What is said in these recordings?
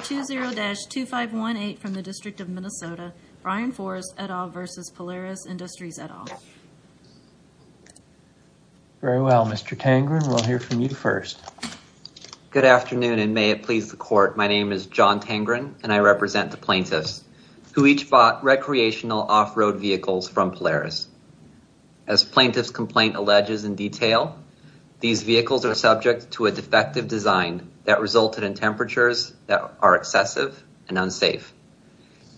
20-2518 from the District of Minnesota, Brian Forrest et al versus Polaris Industries et al. Very well Mr. Tangren, we'll hear from you first. Good afternoon and may it please the court. My name is John Tangren and I represent the plaintiffs who each bought recreational off-road vehicles from Polaris. As plaintiff's complaint alleges in detail, these vehicles are excessive and unsafe.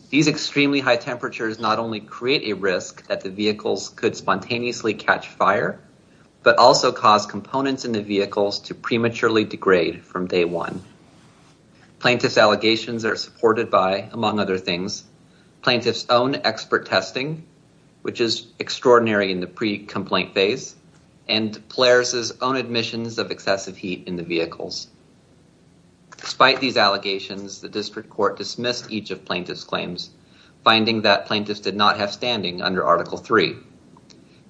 These extremely high temperatures not only create a risk that the vehicles could spontaneously catch fire, but also cause components in the vehicles to prematurely degrade from day one. Plaintiff's allegations are supported by, among other things, plaintiff's own expert testing, which is extraordinary in the pre-complaint phase, and Polaris's own admissions of excessive heat in the vehicles. Despite these allegations, the district court dismissed each of plaintiff's claims, finding that plaintiffs did not have standing under Article 3.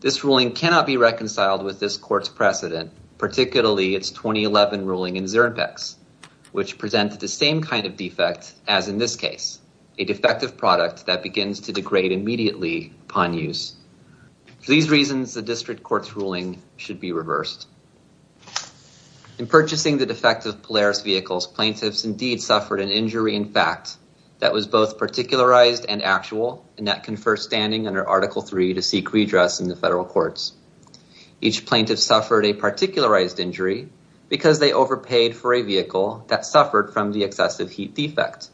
This ruling cannot be reconciled with this court's precedent, particularly its 2011 ruling in Zernpex, which presented the same kind of defect as in this case, a defective product that begins to degrade immediately upon use. For these reasons, the district court's ruling should be reversed. In purchasing the defective Polaris vehicles, plaintiffs indeed suffered an injury in fact that was both particularized and actual and that confer standing under Article 3 to seek redress in the federal courts. Each plaintiff suffered a particularized injury because they overpaid for a vehicle that suffered from the excessive heat defect.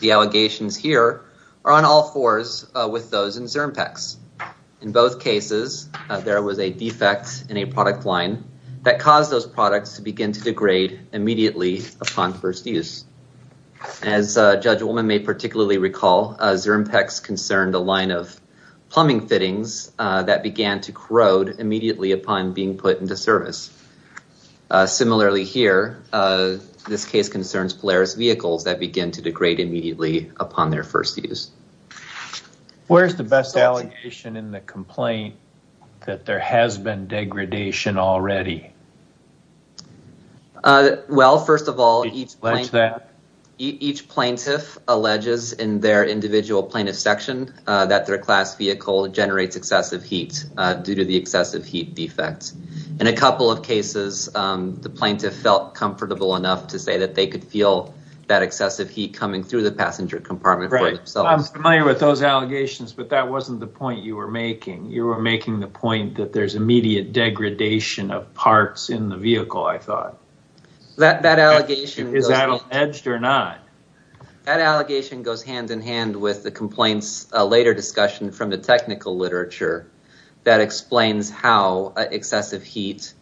The allegations here are on all cores with those in Zernpex. In both cases, there was a defect in a product line that caused those products to begin to degrade immediately upon first use. As Judge Ullman may particularly recall, Zernpex concerned a line of plumbing fittings that began to corrode immediately upon being put into service. Similarly here, this case concerns Polaris vehicles that begin to degrade immediately upon their first use. Where's the best allegation in the complaint that there has been degradation already? Well, first of all, each plaintiff alleges in their individual plaintiff section that their class vehicle generates excessive heat due to the excessive heat defect. In a couple of cases, the plaintiff felt comfortable enough to say that they could feel that excessive heat coming through the passenger compartment. I'm familiar with those allegations, but that wasn't the point you were making. You were making the point that there's immediate degradation of parts in the vehicle, I thought. Is that alleged or not? That allegation goes hand in hand with the complaint's later discussion from the technical literature that explains how excessive heat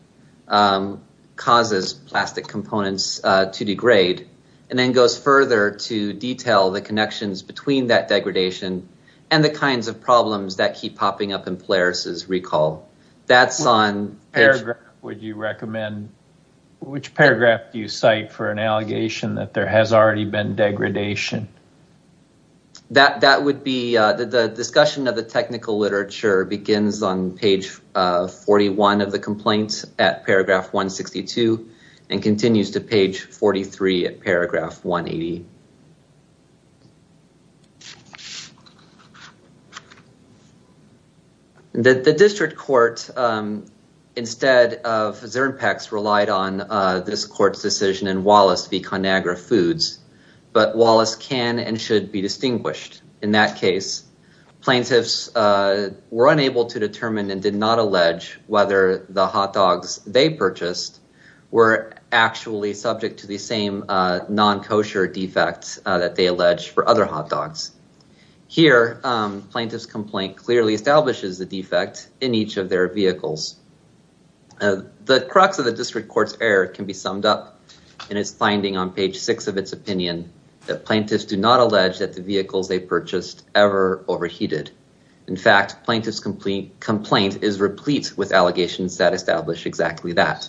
causes plastic components to degrade, and then goes further to detail the connections between that degradation and the kinds of problems that keep popping up in Polaris's recall. Which paragraph do you cite for an allegation that there has already been degradation? The discussion of the technical 43 at paragraph 180. The district court, instead of Zernpex, relied on this court's decision and Wallace v. ConAgra Foods, but Wallace can and should be distinguished. In that case, plaintiffs were unable to determine and did not allege whether the hot dogs they purchased were actually subject to the same non-kosher defects that they allege for other hot dogs. Here, plaintiff's complaint clearly establishes the defect in each of their vehicles. The crux of the district court's error can be summed up in its finding on page six of its opinion that the vehicles they purchased ever overheated. In fact, plaintiff's complaint is replete with allegations that establish exactly that.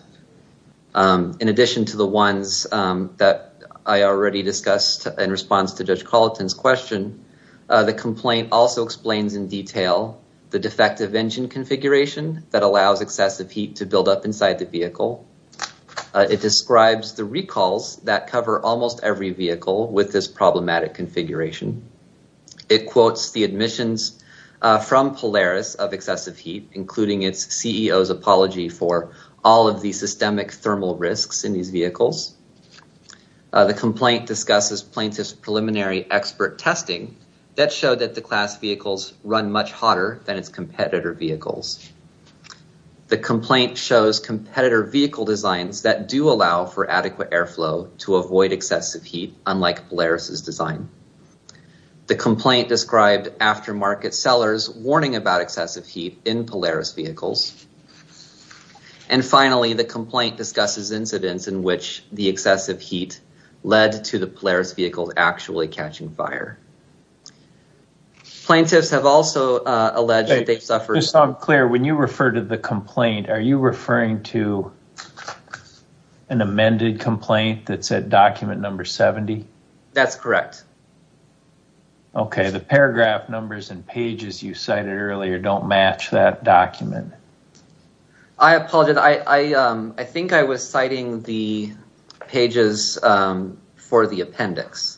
In addition to the ones that I already discussed in response to Judge Colleton's question, the complaint also explains in detail the defective engine configuration that allows excessive heat to build up inside the vehicle. It describes the It quotes the admissions from Polaris of excessive heat, including its CEO's apology for all of the systemic thermal risks in these vehicles. The complaint discusses plaintiff's preliminary expert testing that showed that the class vehicles run much hotter than its competitor vehicles. The complaint shows competitor vehicle designs that do allow for adequate airflow to avoid excessive heat, unlike Polaris's design. The complaint described aftermarket sellers warning about excessive heat in Polaris vehicles. And finally, the complaint discusses incidents in which the excessive heat led to the Polaris vehicles actually catching fire. Plaintiffs have also alleged that they've suffered... Just so I'm clear, when you refer to the complaint, are you referring to an amended complaint that's at document number 70? That's correct. Okay, the paragraph numbers and pages you cited earlier don't match that document. I apologize. I think I was citing the pages for the appendix.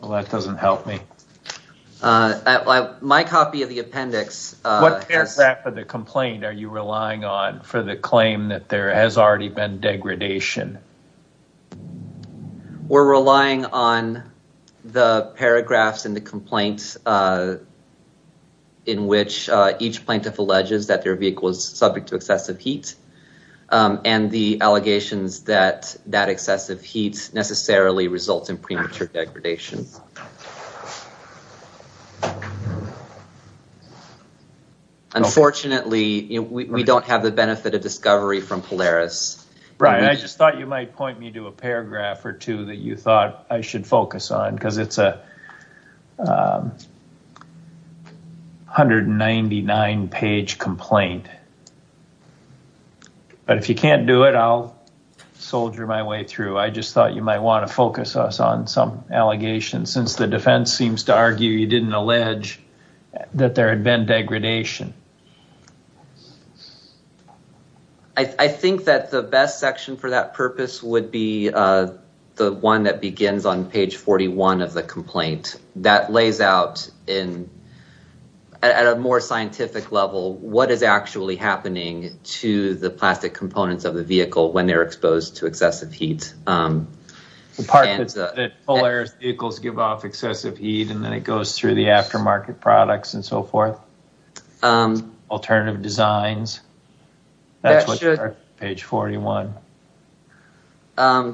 Well, that doesn't help me. My copy of the appendix... What paragraph of the complaint are you relying on for the claim that there has already been degradation? We're relying on the paragraphs in the complaint in which each plaintiff alleges that their vehicle is subject to excessive heat and the allegations that that excessive heat necessarily results in premature degradation. Unfortunately, we don't have the benefit of discovery from Polaris. Right. I just thought you might point me to a paragraph or two that you thought I should focus on because it's a 199-page complaint. But if you can't do it, I'll soldier my way through. I just thought you might want to focus us on some allegations since the defense seems to argue you didn't allege that there had been degradation. I think that the best section for that purpose would be the one that begins on page 41 of the complaint. That lays out at a more scientific level what is actually happening to the plastic components of the vehicle when they're exposed to excessive heat. The part that Polaris vehicles give off excessive heat and then it goes through the aftermarket products and so forth. Alternative designs. That's what's on page 41. I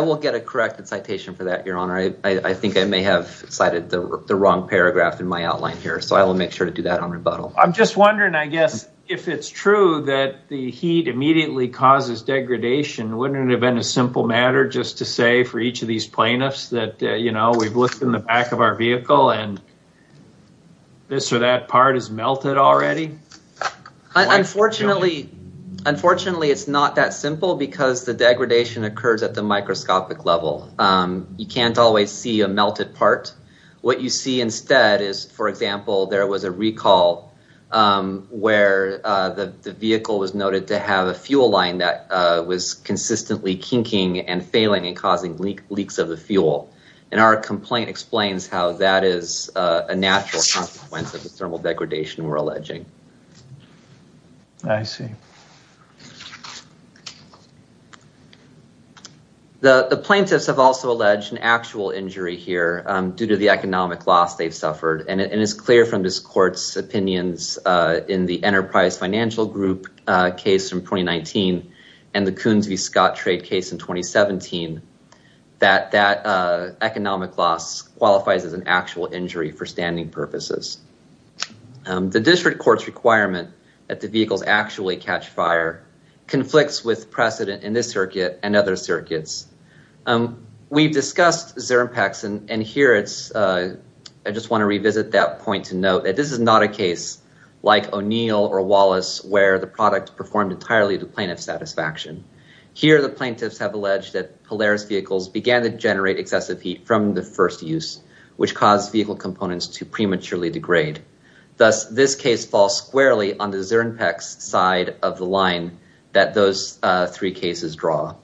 will get a corrected citation for that, your honor. I think I may have cited the wrong paragraph in my outline here. So I will make sure to do that on rebuttal. I'm just wondering, I guess, if it's true that the heat immediately causes degradation, wouldn't it have been a simple matter just to say for each of these plaintiffs that we've looked in the back of our vehicle and this or that part is melted already? Unfortunately, it's not that simple because the degradation occurs at the microscopic level. You can't always see a melted part. What you see instead is, for example, there was a recall where the vehicle was noted to have a fuel line that was consistently kinking and failing and causing leaks of the fuel. Our complaint explains how that is a natural consequence of the thermal degradation we're alleging. I see. The plaintiffs have also alleged an actual injury here due to the economic loss they've suffered. And it's clear from this court's opinions in the Enterprise Financial Group case from 2019 and the Coons v. Scott trade case in 2017 that that economic loss qualifies as an actual injury for standing purposes. The district court's requirement that the vehicles actually catch fire conflicts with precedent in this circuit and other circuits. We've discussed Zirimpax and here it's, I just want to revisit that point to note that this is not a case like O'Neill or Wallace where the product performed entirely to plaintiff satisfaction. Here the plaintiffs have alleged that Polaris vehicles began to generate excessive heat from the first use, which caused vehicle components to prematurely degrade. Thus this case falls squarely on the Zirimpax side of the line that those three cases draw.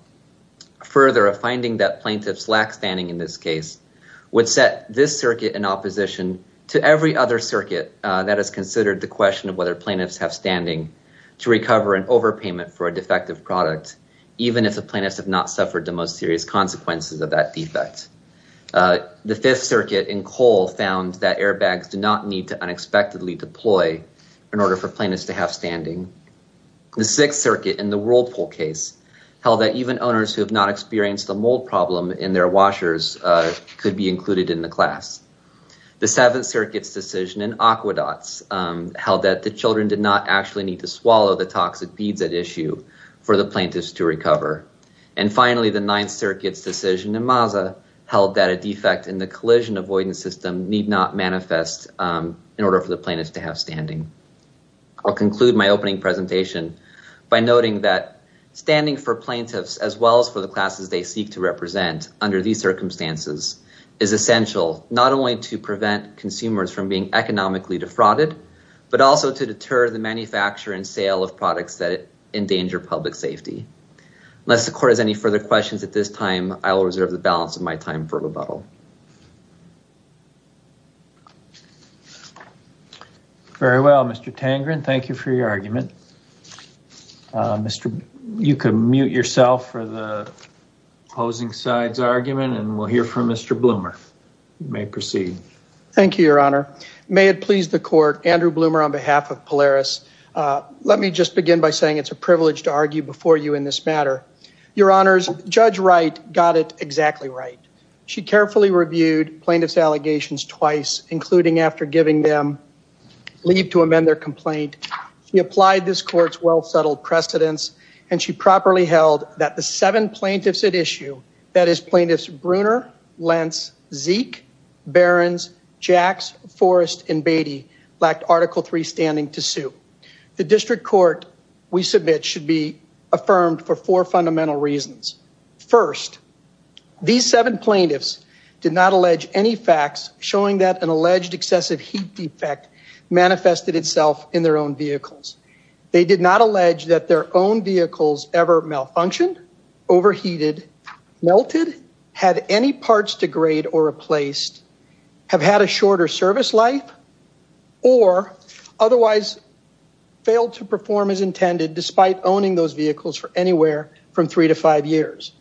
Further, a finding that plaintiffs lack standing in this case would set this circuit in opposition to every other circuit that has considered the question of whether plaintiffs have standing to recover an overpayment for a defective product, even if the plaintiffs have not suffered the most serious consequences of that defect. The fifth circuit in Cole found that airbags do not need to unexpectedly deploy in order for plaintiffs to have standing. The sixth circuit in the Whirlpool case held that even owners who have not experienced a mold problem in their washers could be included in the class. The seventh circuit's decision in Aquedots held that the children did not actually need to swallow the toxic beads at issue for the plaintiffs to recover. And finally the ninth circuit's decision in Maza held that a defect in the collision avoidance system need not manifest in order for the plaintiffs to have standing. I'll conclude my opening presentation by noting that standing for plaintiffs as well as for the classes they seek to represent under these circumstances is essential not only to prevent consumers from being economically defrauded, but also to deter the manufacture and sale of products that endanger public safety. Unless the court has any further questions at this time, I will reserve the balance of my time for rebuttal. Very well, Mr. Tangren, thank you for your argument. You can mute yourself for the opposing side's argument and we'll hear from Mr. Bloomer. You may proceed. Thank you, your honor. May it please the court, Andrew Bloomer on behalf of Polaris. Let me just begin by saying it's a privilege to argue before you in this matter. Your honors, Judge Wright got it exactly right. She carefully reviewed plaintiff's allegations twice, including after giving them leave to amend their complaint. She applied this court's well settled precedents and she properly held that the seven plaintiffs at issue, that is plaintiffs Bruner, Lentz, Zeke, Behrens, Jacks, Forrest, and Beatty lacked article three standing to sue. The district court we submit should be affirmed for four fundamental reasons. First, these seven plaintiffs did not allege any facts showing that an alleged excessive heat defect manifested itself in their own vehicles. They did not allege that their own vehicles ever malfunctioned, overheated, melted, had any parts degrade or replaced, have had a shorter service life or otherwise failed to perform as intended despite owning those vehicles for anywhere from three to five years.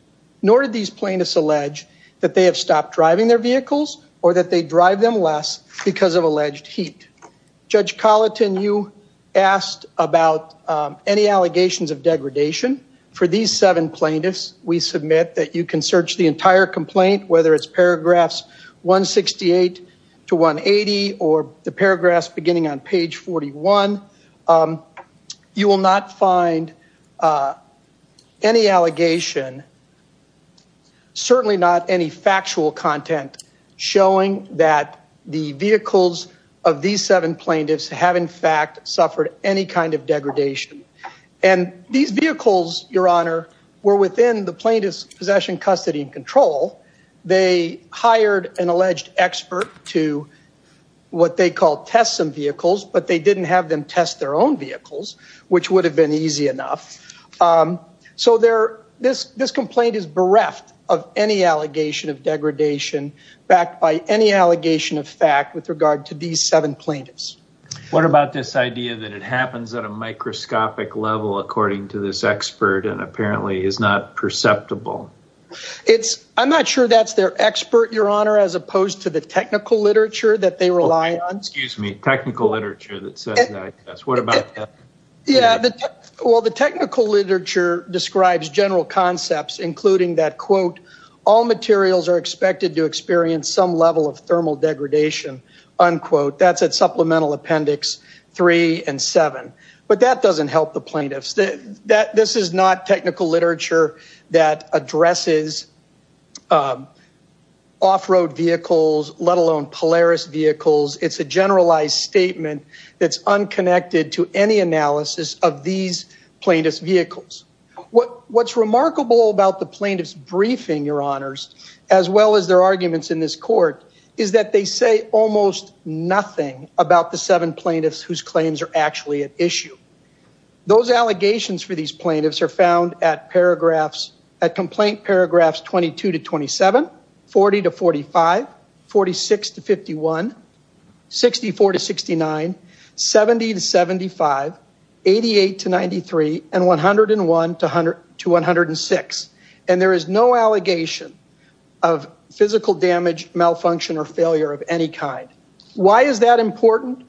Nor did these plaintiffs allege that they have stopped driving their vehicles or that they drive them less because of alleged heat. Judge Colleton, you asked about any allegations of degradation. For these seven plaintiffs, we submit that you can search the entire complaint, whether it's paragraphs 168 to 180 or the paragraphs beginning on page 41, you will not find any allegation, certainly not any factual content showing that the vehicles of these seven plaintiffs have in fact suffered any kind of degradation. And these vehicles, your honor, were within the they hired an alleged expert to what they call test some vehicles, but they didn't have them test their own vehicles, which would have been easy enough. So this complaint is bereft of any allegation of degradation backed by any allegation of fact with regard to these seven plaintiffs. What about this idea that it happens at a microscopic level according to this expert and apparently is not perceptible? I'm not sure that's their expert, your honor, as opposed to the technical literature that they rely on. Excuse me, technical literature that says that. Yeah, well, the technical literature describes general concepts, including that, quote, all materials are expected to experience some level of thermal degradation, unquote. That's supplemental appendix three and seven. But that doesn't help the plaintiffs that this is not technical literature that addresses off road vehicles, let alone Polaris vehicles. It's a generalized statement that's unconnected to any analysis of these plaintiffs vehicles. What's remarkable about the plaintiff's briefing, your honors, as well as their arguments in this court, is that they say almost nothing about the seven plaintiffs whose claims are actually at issue. Those allegations for these plaintiffs are found at paragraphs, at complaint paragraphs 22 to 27, 40 to 45, 46 to 51, 64 to 69, 70 to 75, 88 to 93, and 101 to 106. And there is no allegation of physical damage, malfunction, or failure of any kind. Why is that important?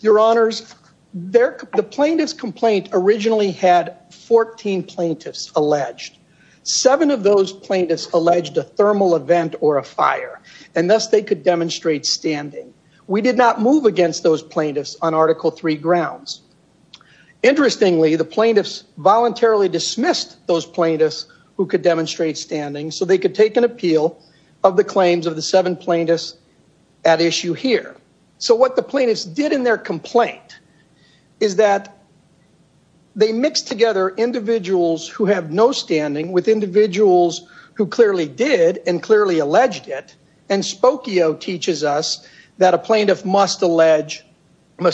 Your honors, the plaintiff's complaint originally had 14 plaintiffs alleged. Seven of those plaintiffs alleged a thermal event or a fire, and thus they could demonstrate standing. We did not move against those plaintiffs on Article III grounds. Interestingly, the plaintiffs voluntarily dismissed those plaintiffs who could demonstrate standing so they could take an appeal of the claims of the seven plaintiffs at issue here. So what the plaintiffs did in their complaint is that they mixed together individuals who have no standing with individuals who clearly did and clearly alleged it, and Spokio teaches us that a plaintiff must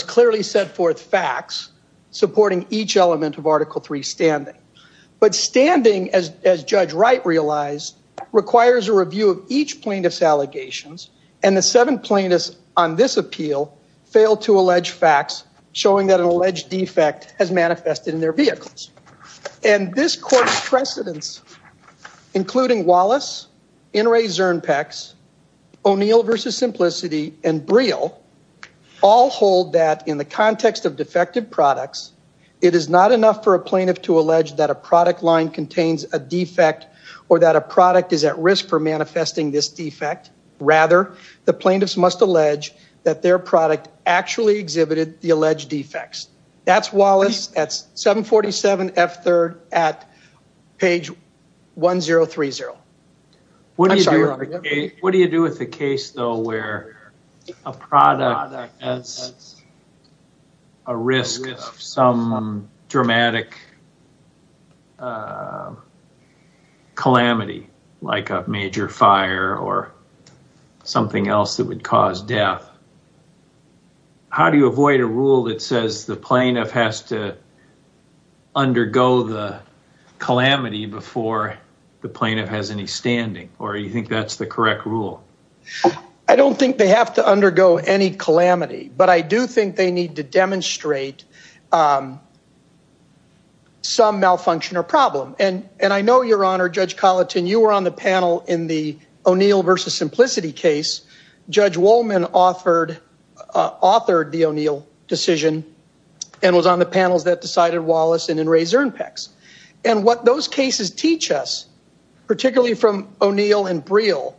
clearly set forth facts supporting each element of Article III standing. But standing, as Judge Wright realized, requires a review of each plaintiff's allegations, and the seven plaintiffs on this appeal failed to allege facts showing that an alleged defect has manifested in their vehicles. And this court's precedents, including Wallace, Inouye Zernpex, O'Neill v. Simplicity, and Briel, all hold that in the it is not enough for a plaintiff to allege that a product line contains a defect or that a product is at risk for manifesting this defect. Rather, the plaintiffs must allege that their product actually exhibited the alleged defects. That's Wallace at 747 F3rd at page 1030. What do you do with a case, though, where a product has a risk of some dramatic calamity, like a major fire or something else that would cause death? How do you avoid a rule that says the plaintiff has to undergo the calamity before the plaintiff has any standing, or do you think that's the correct rule? I don't think they have to undergo any calamity, but I do think they need to demonstrate some malfunction or problem. And I know, Your Honor, Judge Colleton, you were on the panel in the O'Neill v. Simplicity case. Judge Wollman authored the O'Neill decision and was on the particularly from O'Neill and Briel,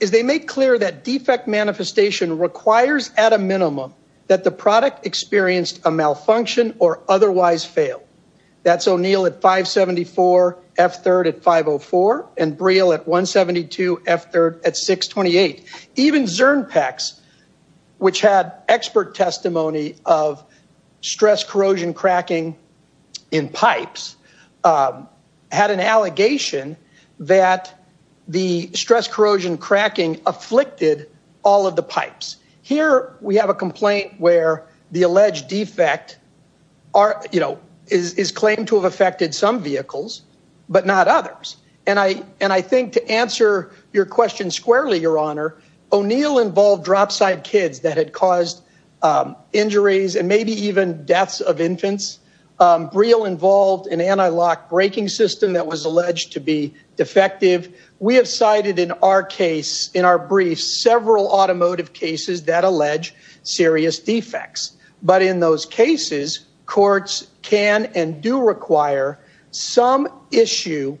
is they make clear that defect manifestation requires at a minimum that the product experienced a malfunction or otherwise fail. That's O'Neill at 574 F3rd at 504 and Briel at 172 F3rd at 628. Even Zernpex, which had expert testimony of had an allegation that the stress corrosion cracking afflicted all of the pipes. Here we have a complaint where the alleged defect is claimed to have affected some vehicles, but not others. And I think to answer your question squarely, Your Honor, O'Neill involved dropside kids that had caused injuries and maybe even deaths of infants. Briel involved an anti-lock braking system that was alleged to be defective. We have cited in our case, in our brief, several automotive cases that allege serious defects. But in those cases, courts can and do require some issue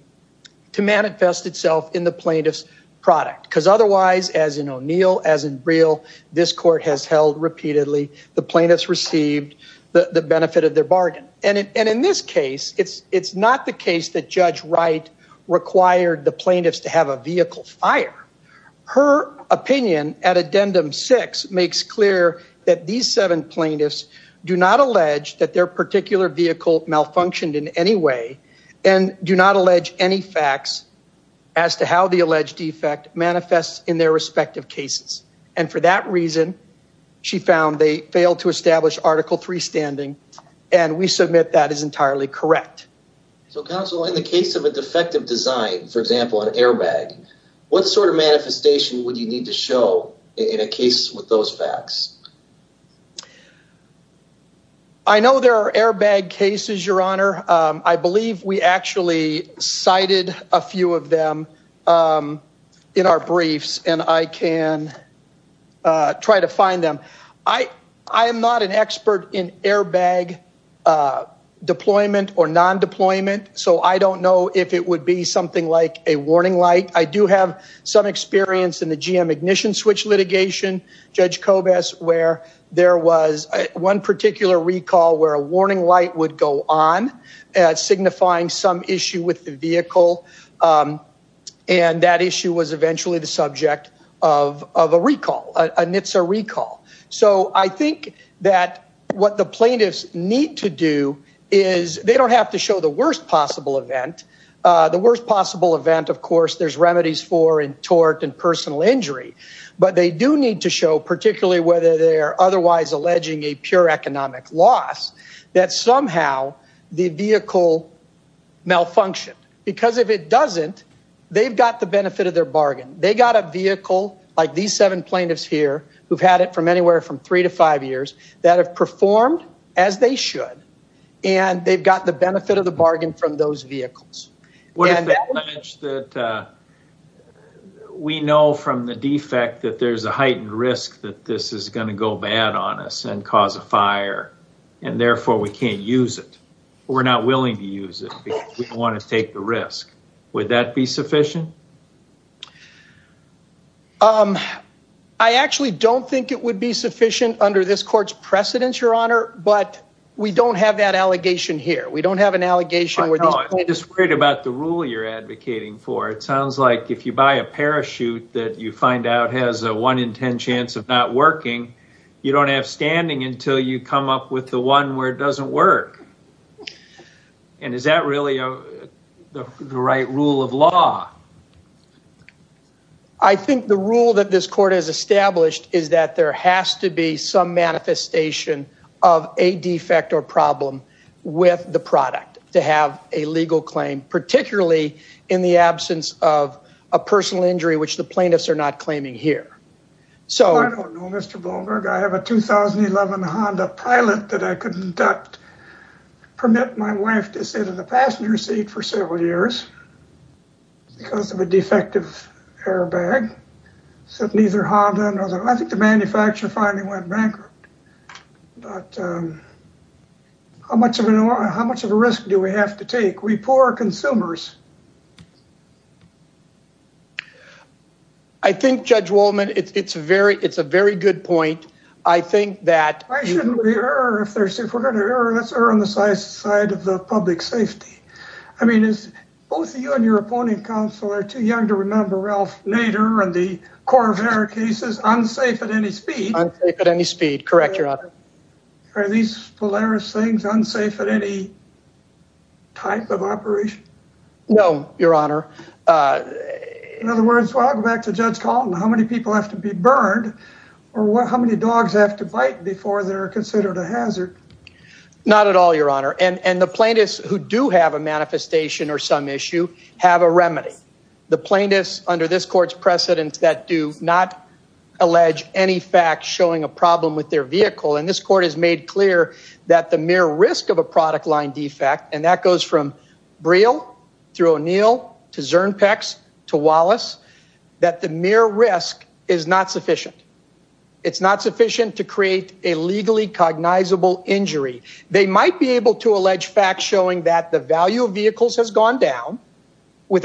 to manifest itself in the plaintiff's product, because otherwise, as in O'Neill, as in Briel, this court has held repeatedly, the plaintiffs received the benefit of their bargain. And in this case, it's not the case that Judge Wright required the plaintiffs to have a vehicle fire. Her opinion at addendum six makes clear that these seven plaintiffs do not allege that their particular vehicle malfunctioned in any way and do not allege any facts as to how the alleged defect manifests in their respective cases. And for that reason, she found they failed to establish article three standing, and we submit that is entirely correct. So counsel, in the case of a defective design, for example, an airbag, what sort of manifestation would you need to show in a case with those facts? I know there are airbag cases, Your Honor. I believe we actually cited a few of them in our briefs, and I can try to find them. I am not an expert in airbag deployment or non-deployment, so I don't know if it would be something like a warning light. I do have some experience in the GM ignition switch litigation, Judge Kobes, where there was one particular recall where a warning light would go on, signifying some issue with the vehicle. And that issue was eventually the subject of a recall, a NHTSA recall. So I think that what the plaintiffs need to do is they don't have to show the worst possible event. The worst possible event, of course, there's remedies for in tort and personal injury, but they do need to show, particularly whether they're otherwise alleging a pure economic loss, that somehow the vehicle malfunctioned. Because if it doesn't, they've got the benefit of their bargain. They got a vehicle, like these seven plaintiffs here, who've had it from anywhere from three to five years, that have performed as they should, and they've got the benefit of the bargain from those vehicles. We know from the defect that there's a heightened risk that this is going to go bad on us and cause a fire, and therefore we can't use it. We're not willing to use it because we don't want to take the risk. Would that be sufficient? I actually don't think it would be sufficient under this court's precedence, Your Honor, but we don't have that allegation here. We don't have an allegation. I know, I'm just worried about the rule you're advocating for. It sounds like if you buy a vehicle, you don't have standing until you come up with the one where it doesn't work. And is that really the right rule of law? I think the rule that this court has established is that there has to be some manifestation of a defect or problem with the product to have a legal claim, particularly in the absence of a personal injury, which the plaintiffs are not claiming here. I don't know, Mr. Bohlberg. I have a 2011 Honda Pilot that I couldn't permit my wife to sit in the passenger seat for several years because of a defective airbag. I think the manufacturer finally went bankrupt. How much of a risk do we have to take? We poor consumers. I think, Judge Wolman, it's a very good point. I think that- Why shouldn't we err? If we're going to err, let's err on the side of the public safety. I mean, both you and your opponent, counsel, are too young to remember Ralph Nader and the Corvair cases, unsafe at any speed. Unsafe at any speed. Correct, Your Honor. Are these Polaris things unsafe at any type of operation? No, Your Honor. In other words, I'll go back to Judge Calton, how many people have to be burned or how many dogs have to bite before they're considered a hazard? Not at all, Your Honor. And the plaintiffs who do have a manifestation or some issue have a remedy. The plaintiffs under this court's precedence that do not allege any fact showing a problem with their vehicle, and this court has made clear that the mere risk of a product line defect, and that goes from Braille through O'Neill to Zernpex to Wallace, that the mere risk is not sufficient. It's not sufficient to create a legally cognizable injury. They might be able to allege facts showing that the value of vehicles has gone down some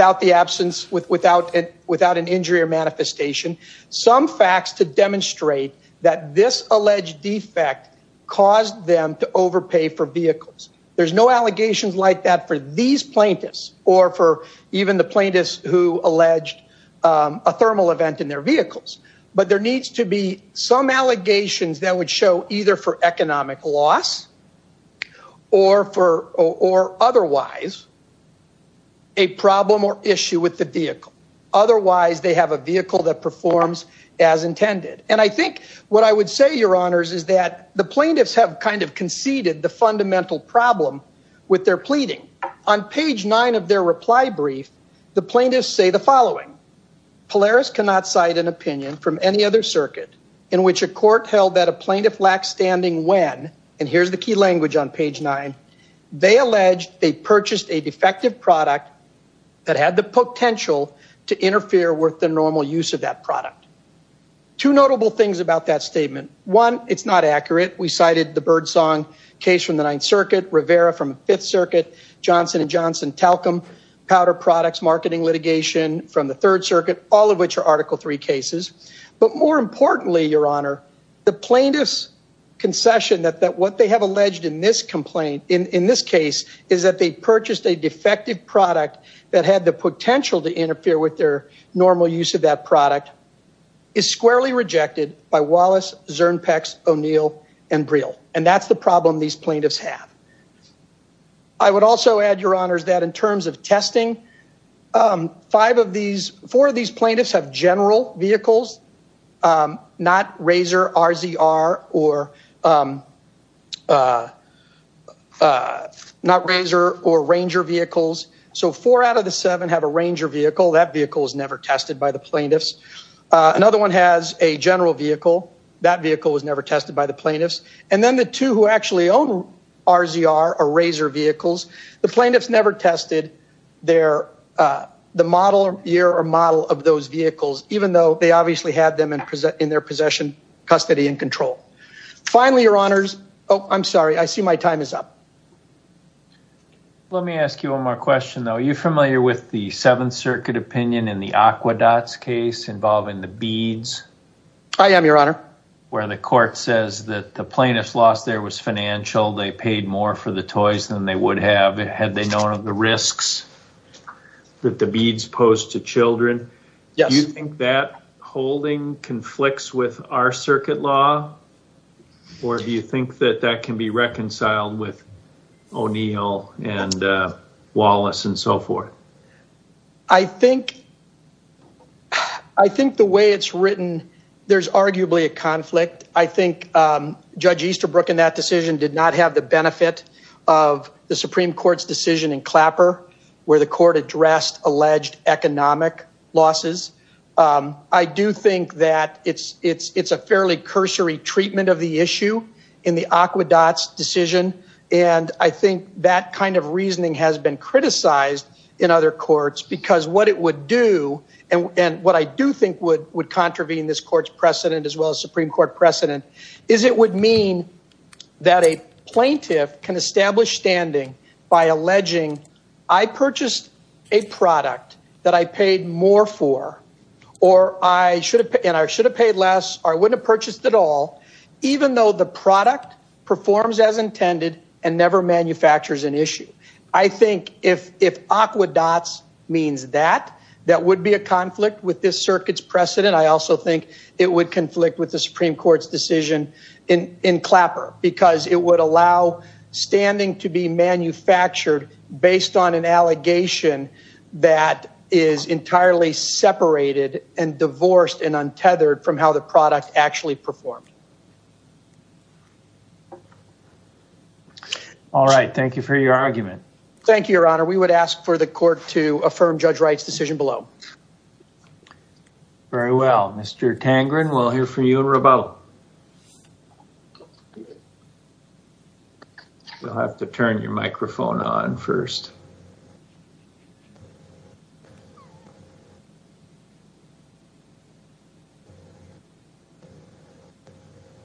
facts to demonstrate that this alleged defect caused them to overpay for vehicles. There's no allegations like that for these plaintiffs or for even the plaintiffs who alleged a thermal event in their vehicles. But there needs to be some allegations that would show either for economic loss or for or otherwise a problem or issue with the vehicle. Otherwise, they have a vehicle that performs as intended. And I think what I would say, Your Honors, is that the plaintiffs have kind of conceded the fundamental problem with their pleading. On page nine of their reply brief, the plaintiffs say the following. Polaris cannot cite an opinion from any other circuit in which a court held that a plaintiff lacks standing when, and here's the key language on page nine, they alleged they purchased a normal use of that product. Two notable things about that statement. One, it's not accurate. We cited the Birdsong case from the Ninth Circuit, Rivera from the Fifth Circuit, Johnson and Johnson-Talcum powder products marketing litigation from the Third Circuit, all of which are Article III cases. But more importantly, Your Honor, the plaintiffs' concession that what they have alleged in this complaint, in this case, is that they purchased a defective product that had the potential to interfere with their normal use of that product, is squarely rejected by Wallace, Zernpex, O'Neill, and Briel. And that's the problem these plaintiffs have. I would also add, Your Honors, that in terms of testing, four of these plaintiffs have general vehicles, not RZR or Ranger vehicles. So four out of the seven have a Ranger vehicle. That vehicle was never tested by the plaintiffs. Another one has a general vehicle. That vehicle was never tested by the plaintiffs. And then the two who actually own RZR or Razor vehicles, the plaintiffs never tested their, the model year or model of those vehicles, even though they obviously had them in their possession, custody, and control. Finally, Your Honors. Oh, I'm sorry. I see my time is up. Let me ask you one more question, though. Are you familiar with the Seventh Circuit opinion in the Aquedot's case involving the beads? I am, Your Honor. Where the court says that the plaintiff's loss there was financial, they paid more for the toys than they would have had they known of the risks that the beads pose to children. Do you think that holding conflicts with our circuit law? Or do you think that that can be reconciled with O'Neill and Wallace and so forth? I think the way it's written, there's arguably a conflict. I think Judge Easterbrook in that decision did not have the benefit of the Supreme Court's decision in Clapper where the court addressed alleged economic losses. I do think that it's a fairly cursory treatment of the issue in the Aquedot's decision. And I think that kind of reasoning has been criticized in other courts because what it would do and what I do think would contravene this court's precedent, as well as Supreme Court precedent, is it would mean that a plaintiff can establish standing by alleging, I purchased a product that I paid more for, and I should have paid less, or I wouldn't have purchased at all, even though the product performs as intended and never manufactures an issue. I think if Aquedot's means that, that would be a conflict with this circuit's precedent. I also think it would conflict with the Supreme Court's decision in Clapper because it would allow standing to be manufactured based on an allegation that is entirely separated and divorced and untethered from how the product actually performed. All right. Thank you for your argument. Thank you, Your Honor. We would ask for the court to affirm Judge Wright's decision below. Very well. Mr. Tangren, we'll hear from you in rebuttal. You'll have to turn your microphone on first.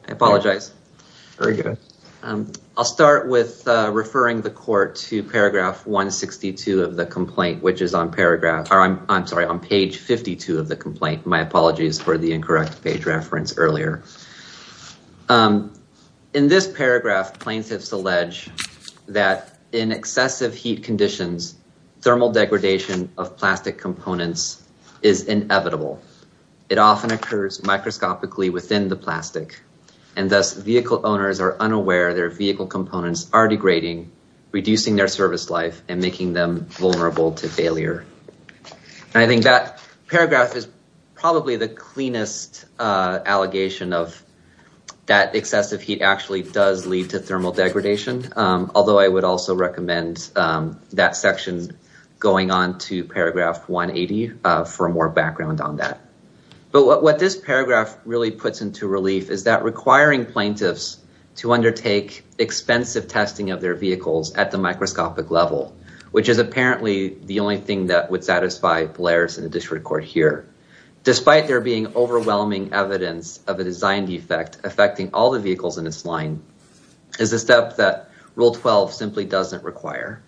I apologize. Very good. I'll start with referring the court to paragraph 162 of the complaint, which is on paragraph, or I'm sorry, on page 52 of the complaint. My apologies for the incorrect page reference earlier. In this paragraph, plaintiffs allege that in excessive heat conditions, thermal degradation of plastic components is inevitable. It often occurs microscopically within the plastic, and thus vehicle owners are unaware their vehicle components are degrading, reducing their service life, and making them vulnerable to failure. And I think that paragraph is probably the cleanest allegation of the court's history. That excessive heat actually does lead to thermal degradation, although I would also recommend that section going on to paragraph 180 for more background on that. But what this paragraph really puts into relief is that requiring plaintiffs to undertake expensive testing of their vehicles at the microscopic level, which is apparently the only thing that would satisfy Blairs in the district court here, despite there being overwhelming evidence of a design defect affecting all the vehicles in its line, is a step that Rule 12 simply doesn't require.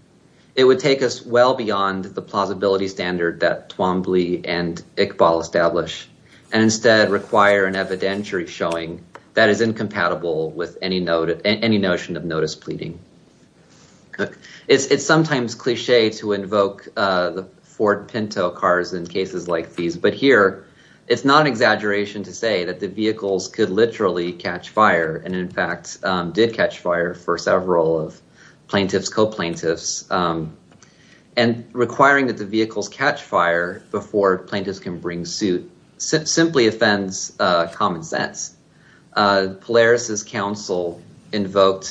It would take us well beyond the plausibility standard that Twombly and Iqbal establish, and instead require an evidentiary showing that is incompatible with any notion of notice pleading. It's sometimes cliche to invoke the Ford Pinto cars in cases like these, but here it's not an exaggeration to say that the vehicles could literally catch fire, and in fact did catch fire for several of plaintiffs, co-plaintiffs, and requiring that the vehicles catch fire before plaintiffs can bring suit simply offends common sense. Polaris's counsel invoked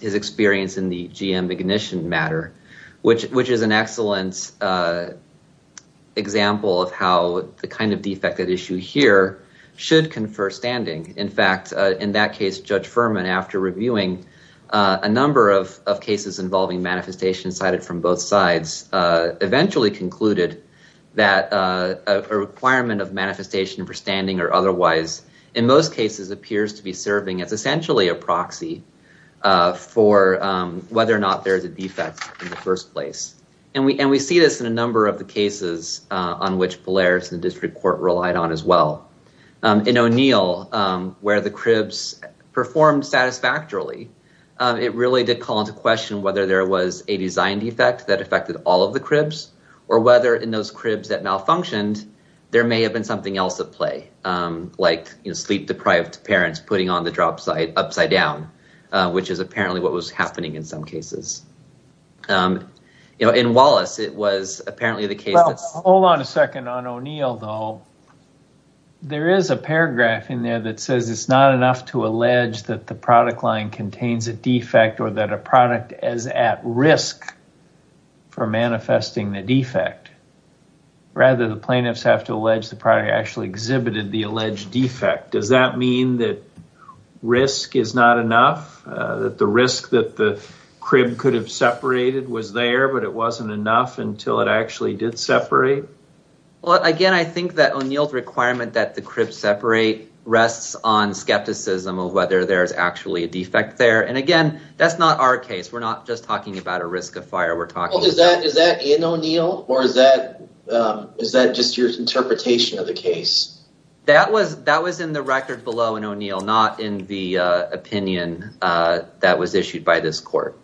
his experience in the GM ignition matter, which is an excellent example of how the kind of defect that issue here should confer standing. In fact, in that case, Judge Furman, after reviewing a number of cases involving manifestation cited from both sides, eventually concluded that a requirement of manifestation for standing or otherwise, in most cases, appears to be serving as essentially a proxy for whether or not there's a defect in the first place. And we see this in a number of the cases on which Polaris and the district court relied on as well. In O'Neill, where the cribs performed satisfactorily, it really did call into question whether there was a design defect that affected all of the cribs, or whether in those cribs that malfunctioned, there may have been something else at play, like sleep-deprived parents putting on the drop side upside down, which is apparently what was happening in some cases. You know, in Wallace, it was apparently the case. Well, hold on a second on O'Neill, though. There is a paragraph in there that says it's not enough to allege that the product line contains a defect or that a product is at risk for manifesting the defect. Rather, the plaintiffs have to allege the product actually exhibited the alleged defect. Does that mean that risk is not enough? That the risk that the crib could have separated was there, but it wasn't enough until it actually did separate? Well, again, I think that O'Neill's requirement that the crib separate rests on skepticism of whether there's actually a defect there. And again, that's not our case. We're not just talking about a risk of fire. We're talking about... That was in the record below in O'Neill, not in the opinion that was issued by this court.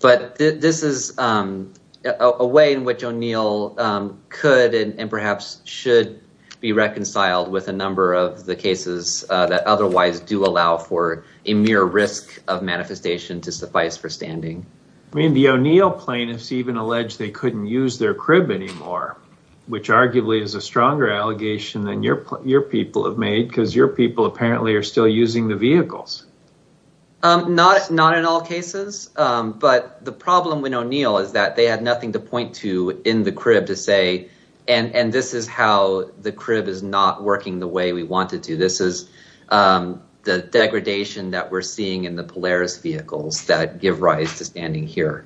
But this is a way in which O'Neill could and perhaps should be reconciled with a number of the cases that otherwise do allow for a mere risk of manifestation to suffice for standing. I mean, the O'Neill plaintiffs even allege they couldn't use their crib anymore, which arguably is a stronger allegation than your people have made because your people apparently are still using the vehicles. Not in all cases, but the problem with O'Neill is that they had nothing to point to in the crib to say, and this is how the crib is not working the way we want it to. This is the degradation that we're seeing in the Polaris vehicles that give rise to standing here.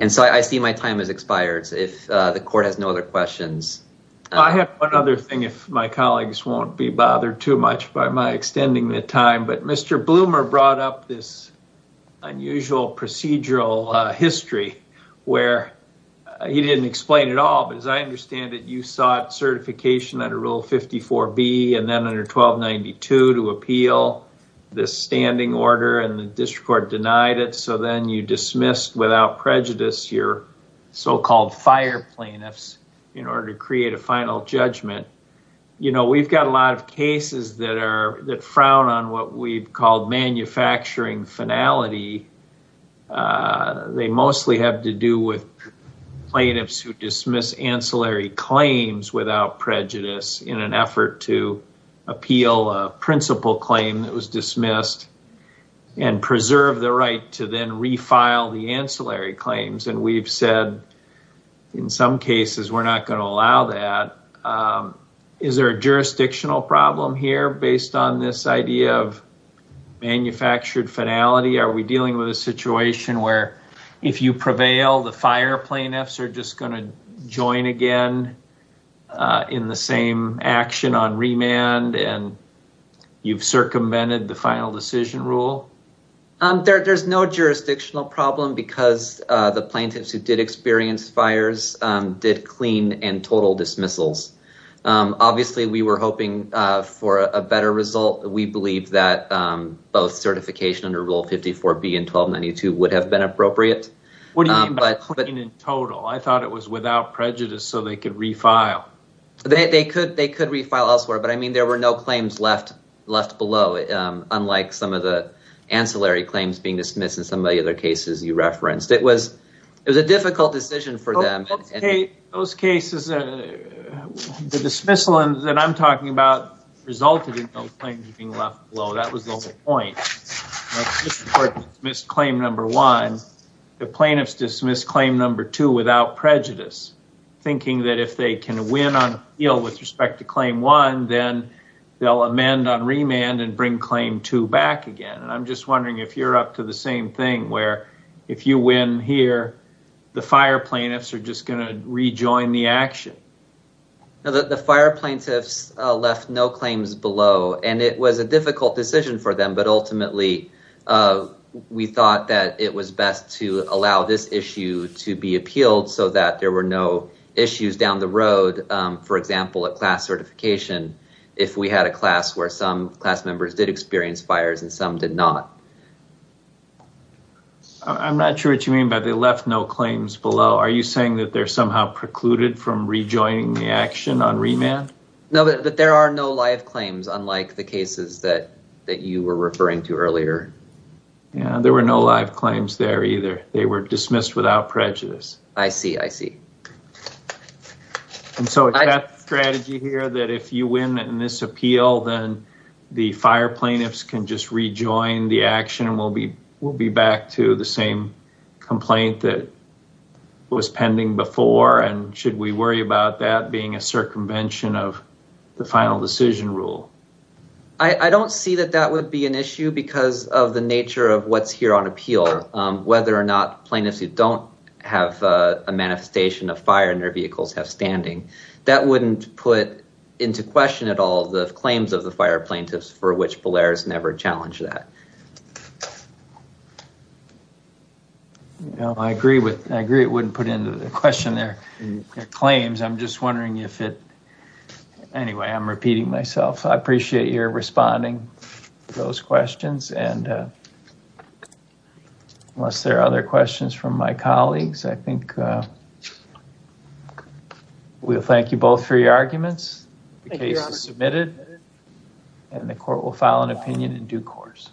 And so, I see my time has expired, so if the court has no other questions... I have one other thing, if my colleagues won't be bothered too much by my extending the time, but Mr. Bloomer brought up this unusual procedural history where he didn't explain it all, but as I understand it, you sought certification under Rule 54B and then under 1292 to appeal this standing order and the district court denied it, so then you dismissed without prejudice your so-called fire plaintiffs in order to create a final judgment. You know, we've got a lot of cases that frown on what we've called manufacturing finality. They mostly have to do with plaintiffs who dismiss ancillary claims without prejudice in an effort to appeal a principal claim that was dismissed and preserve the right to then refile the ancillary claims, and we've said in some cases we're not going to allow that. Is there a jurisdictional problem here based on this idea of manufactured finality? Are we dealing with a situation where if you prevail, the fire plaintiffs are just going to action on remand and you've circumvented the final decision rule? There's no jurisdictional problem because the plaintiffs who did experience fires did clean and total dismissals. Obviously, we were hoping for a better result. We believe that both certification under Rule 54B and 1292 would have been appropriate. What do you mean by clean and total? I thought it was without prejudice so they could refile. They could refile elsewhere, but I mean there were no claims left below, unlike some of the ancillary claims being dismissed in some of the other cases you referenced. It was a difficult decision for them. Those cases, the dismissal that I'm talking about resulted in those claims being left below. That was the whole point. The plaintiffs dismissed claim number one. The plaintiffs dismissed claim number two without prejudice, thinking that if they can win on appeal with respect to claim one, then they'll amend on remand and bring claim two back again. I'm just wondering if you're up to the same thing where if you win here, the fire plaintiffs are just going to rejoin the action. The fire plaintiffs left no claims below and it was a difficult decision for them, but ultimately we thought that it was best to allow this issue to be appealed so that there were no issues down the road. For example, at class certification, if we had a class where some class members did experience fires and some did not. I'm not sure what you mean by they left no claims below. Are you saying that they're somehow precluded from rejoining the action on remand? No, but there are no live claims unlike the cases that you were referring to earlier. Yeah, there were no live claims there either. They were dismissed without prejudice. I see. I see. And so it's that strategy here that if you win in this appeal, then the fire plaintiffs can just rejoin the action and we'll be back to the same complaint that was pending before. And should we of the final decision rule? I don't see that that would be an issue because of the nature of what's here on appeal, whether or not plaintiffs who don't have a manifestation of fire in their vehicles have standing. That wouldn't put into question at all the claims of the fire plaintiffs for which Bellaire's never challenged that. I agree it wouldn't put into question their claims. I'm just wondering if it anyway, I'm repeating myself. I appreciate your responding to those questions. Unless there are other questions from my colleagues, I think we'll thank you both for your arguments. The case is submitted and the court will file an opinion in due course.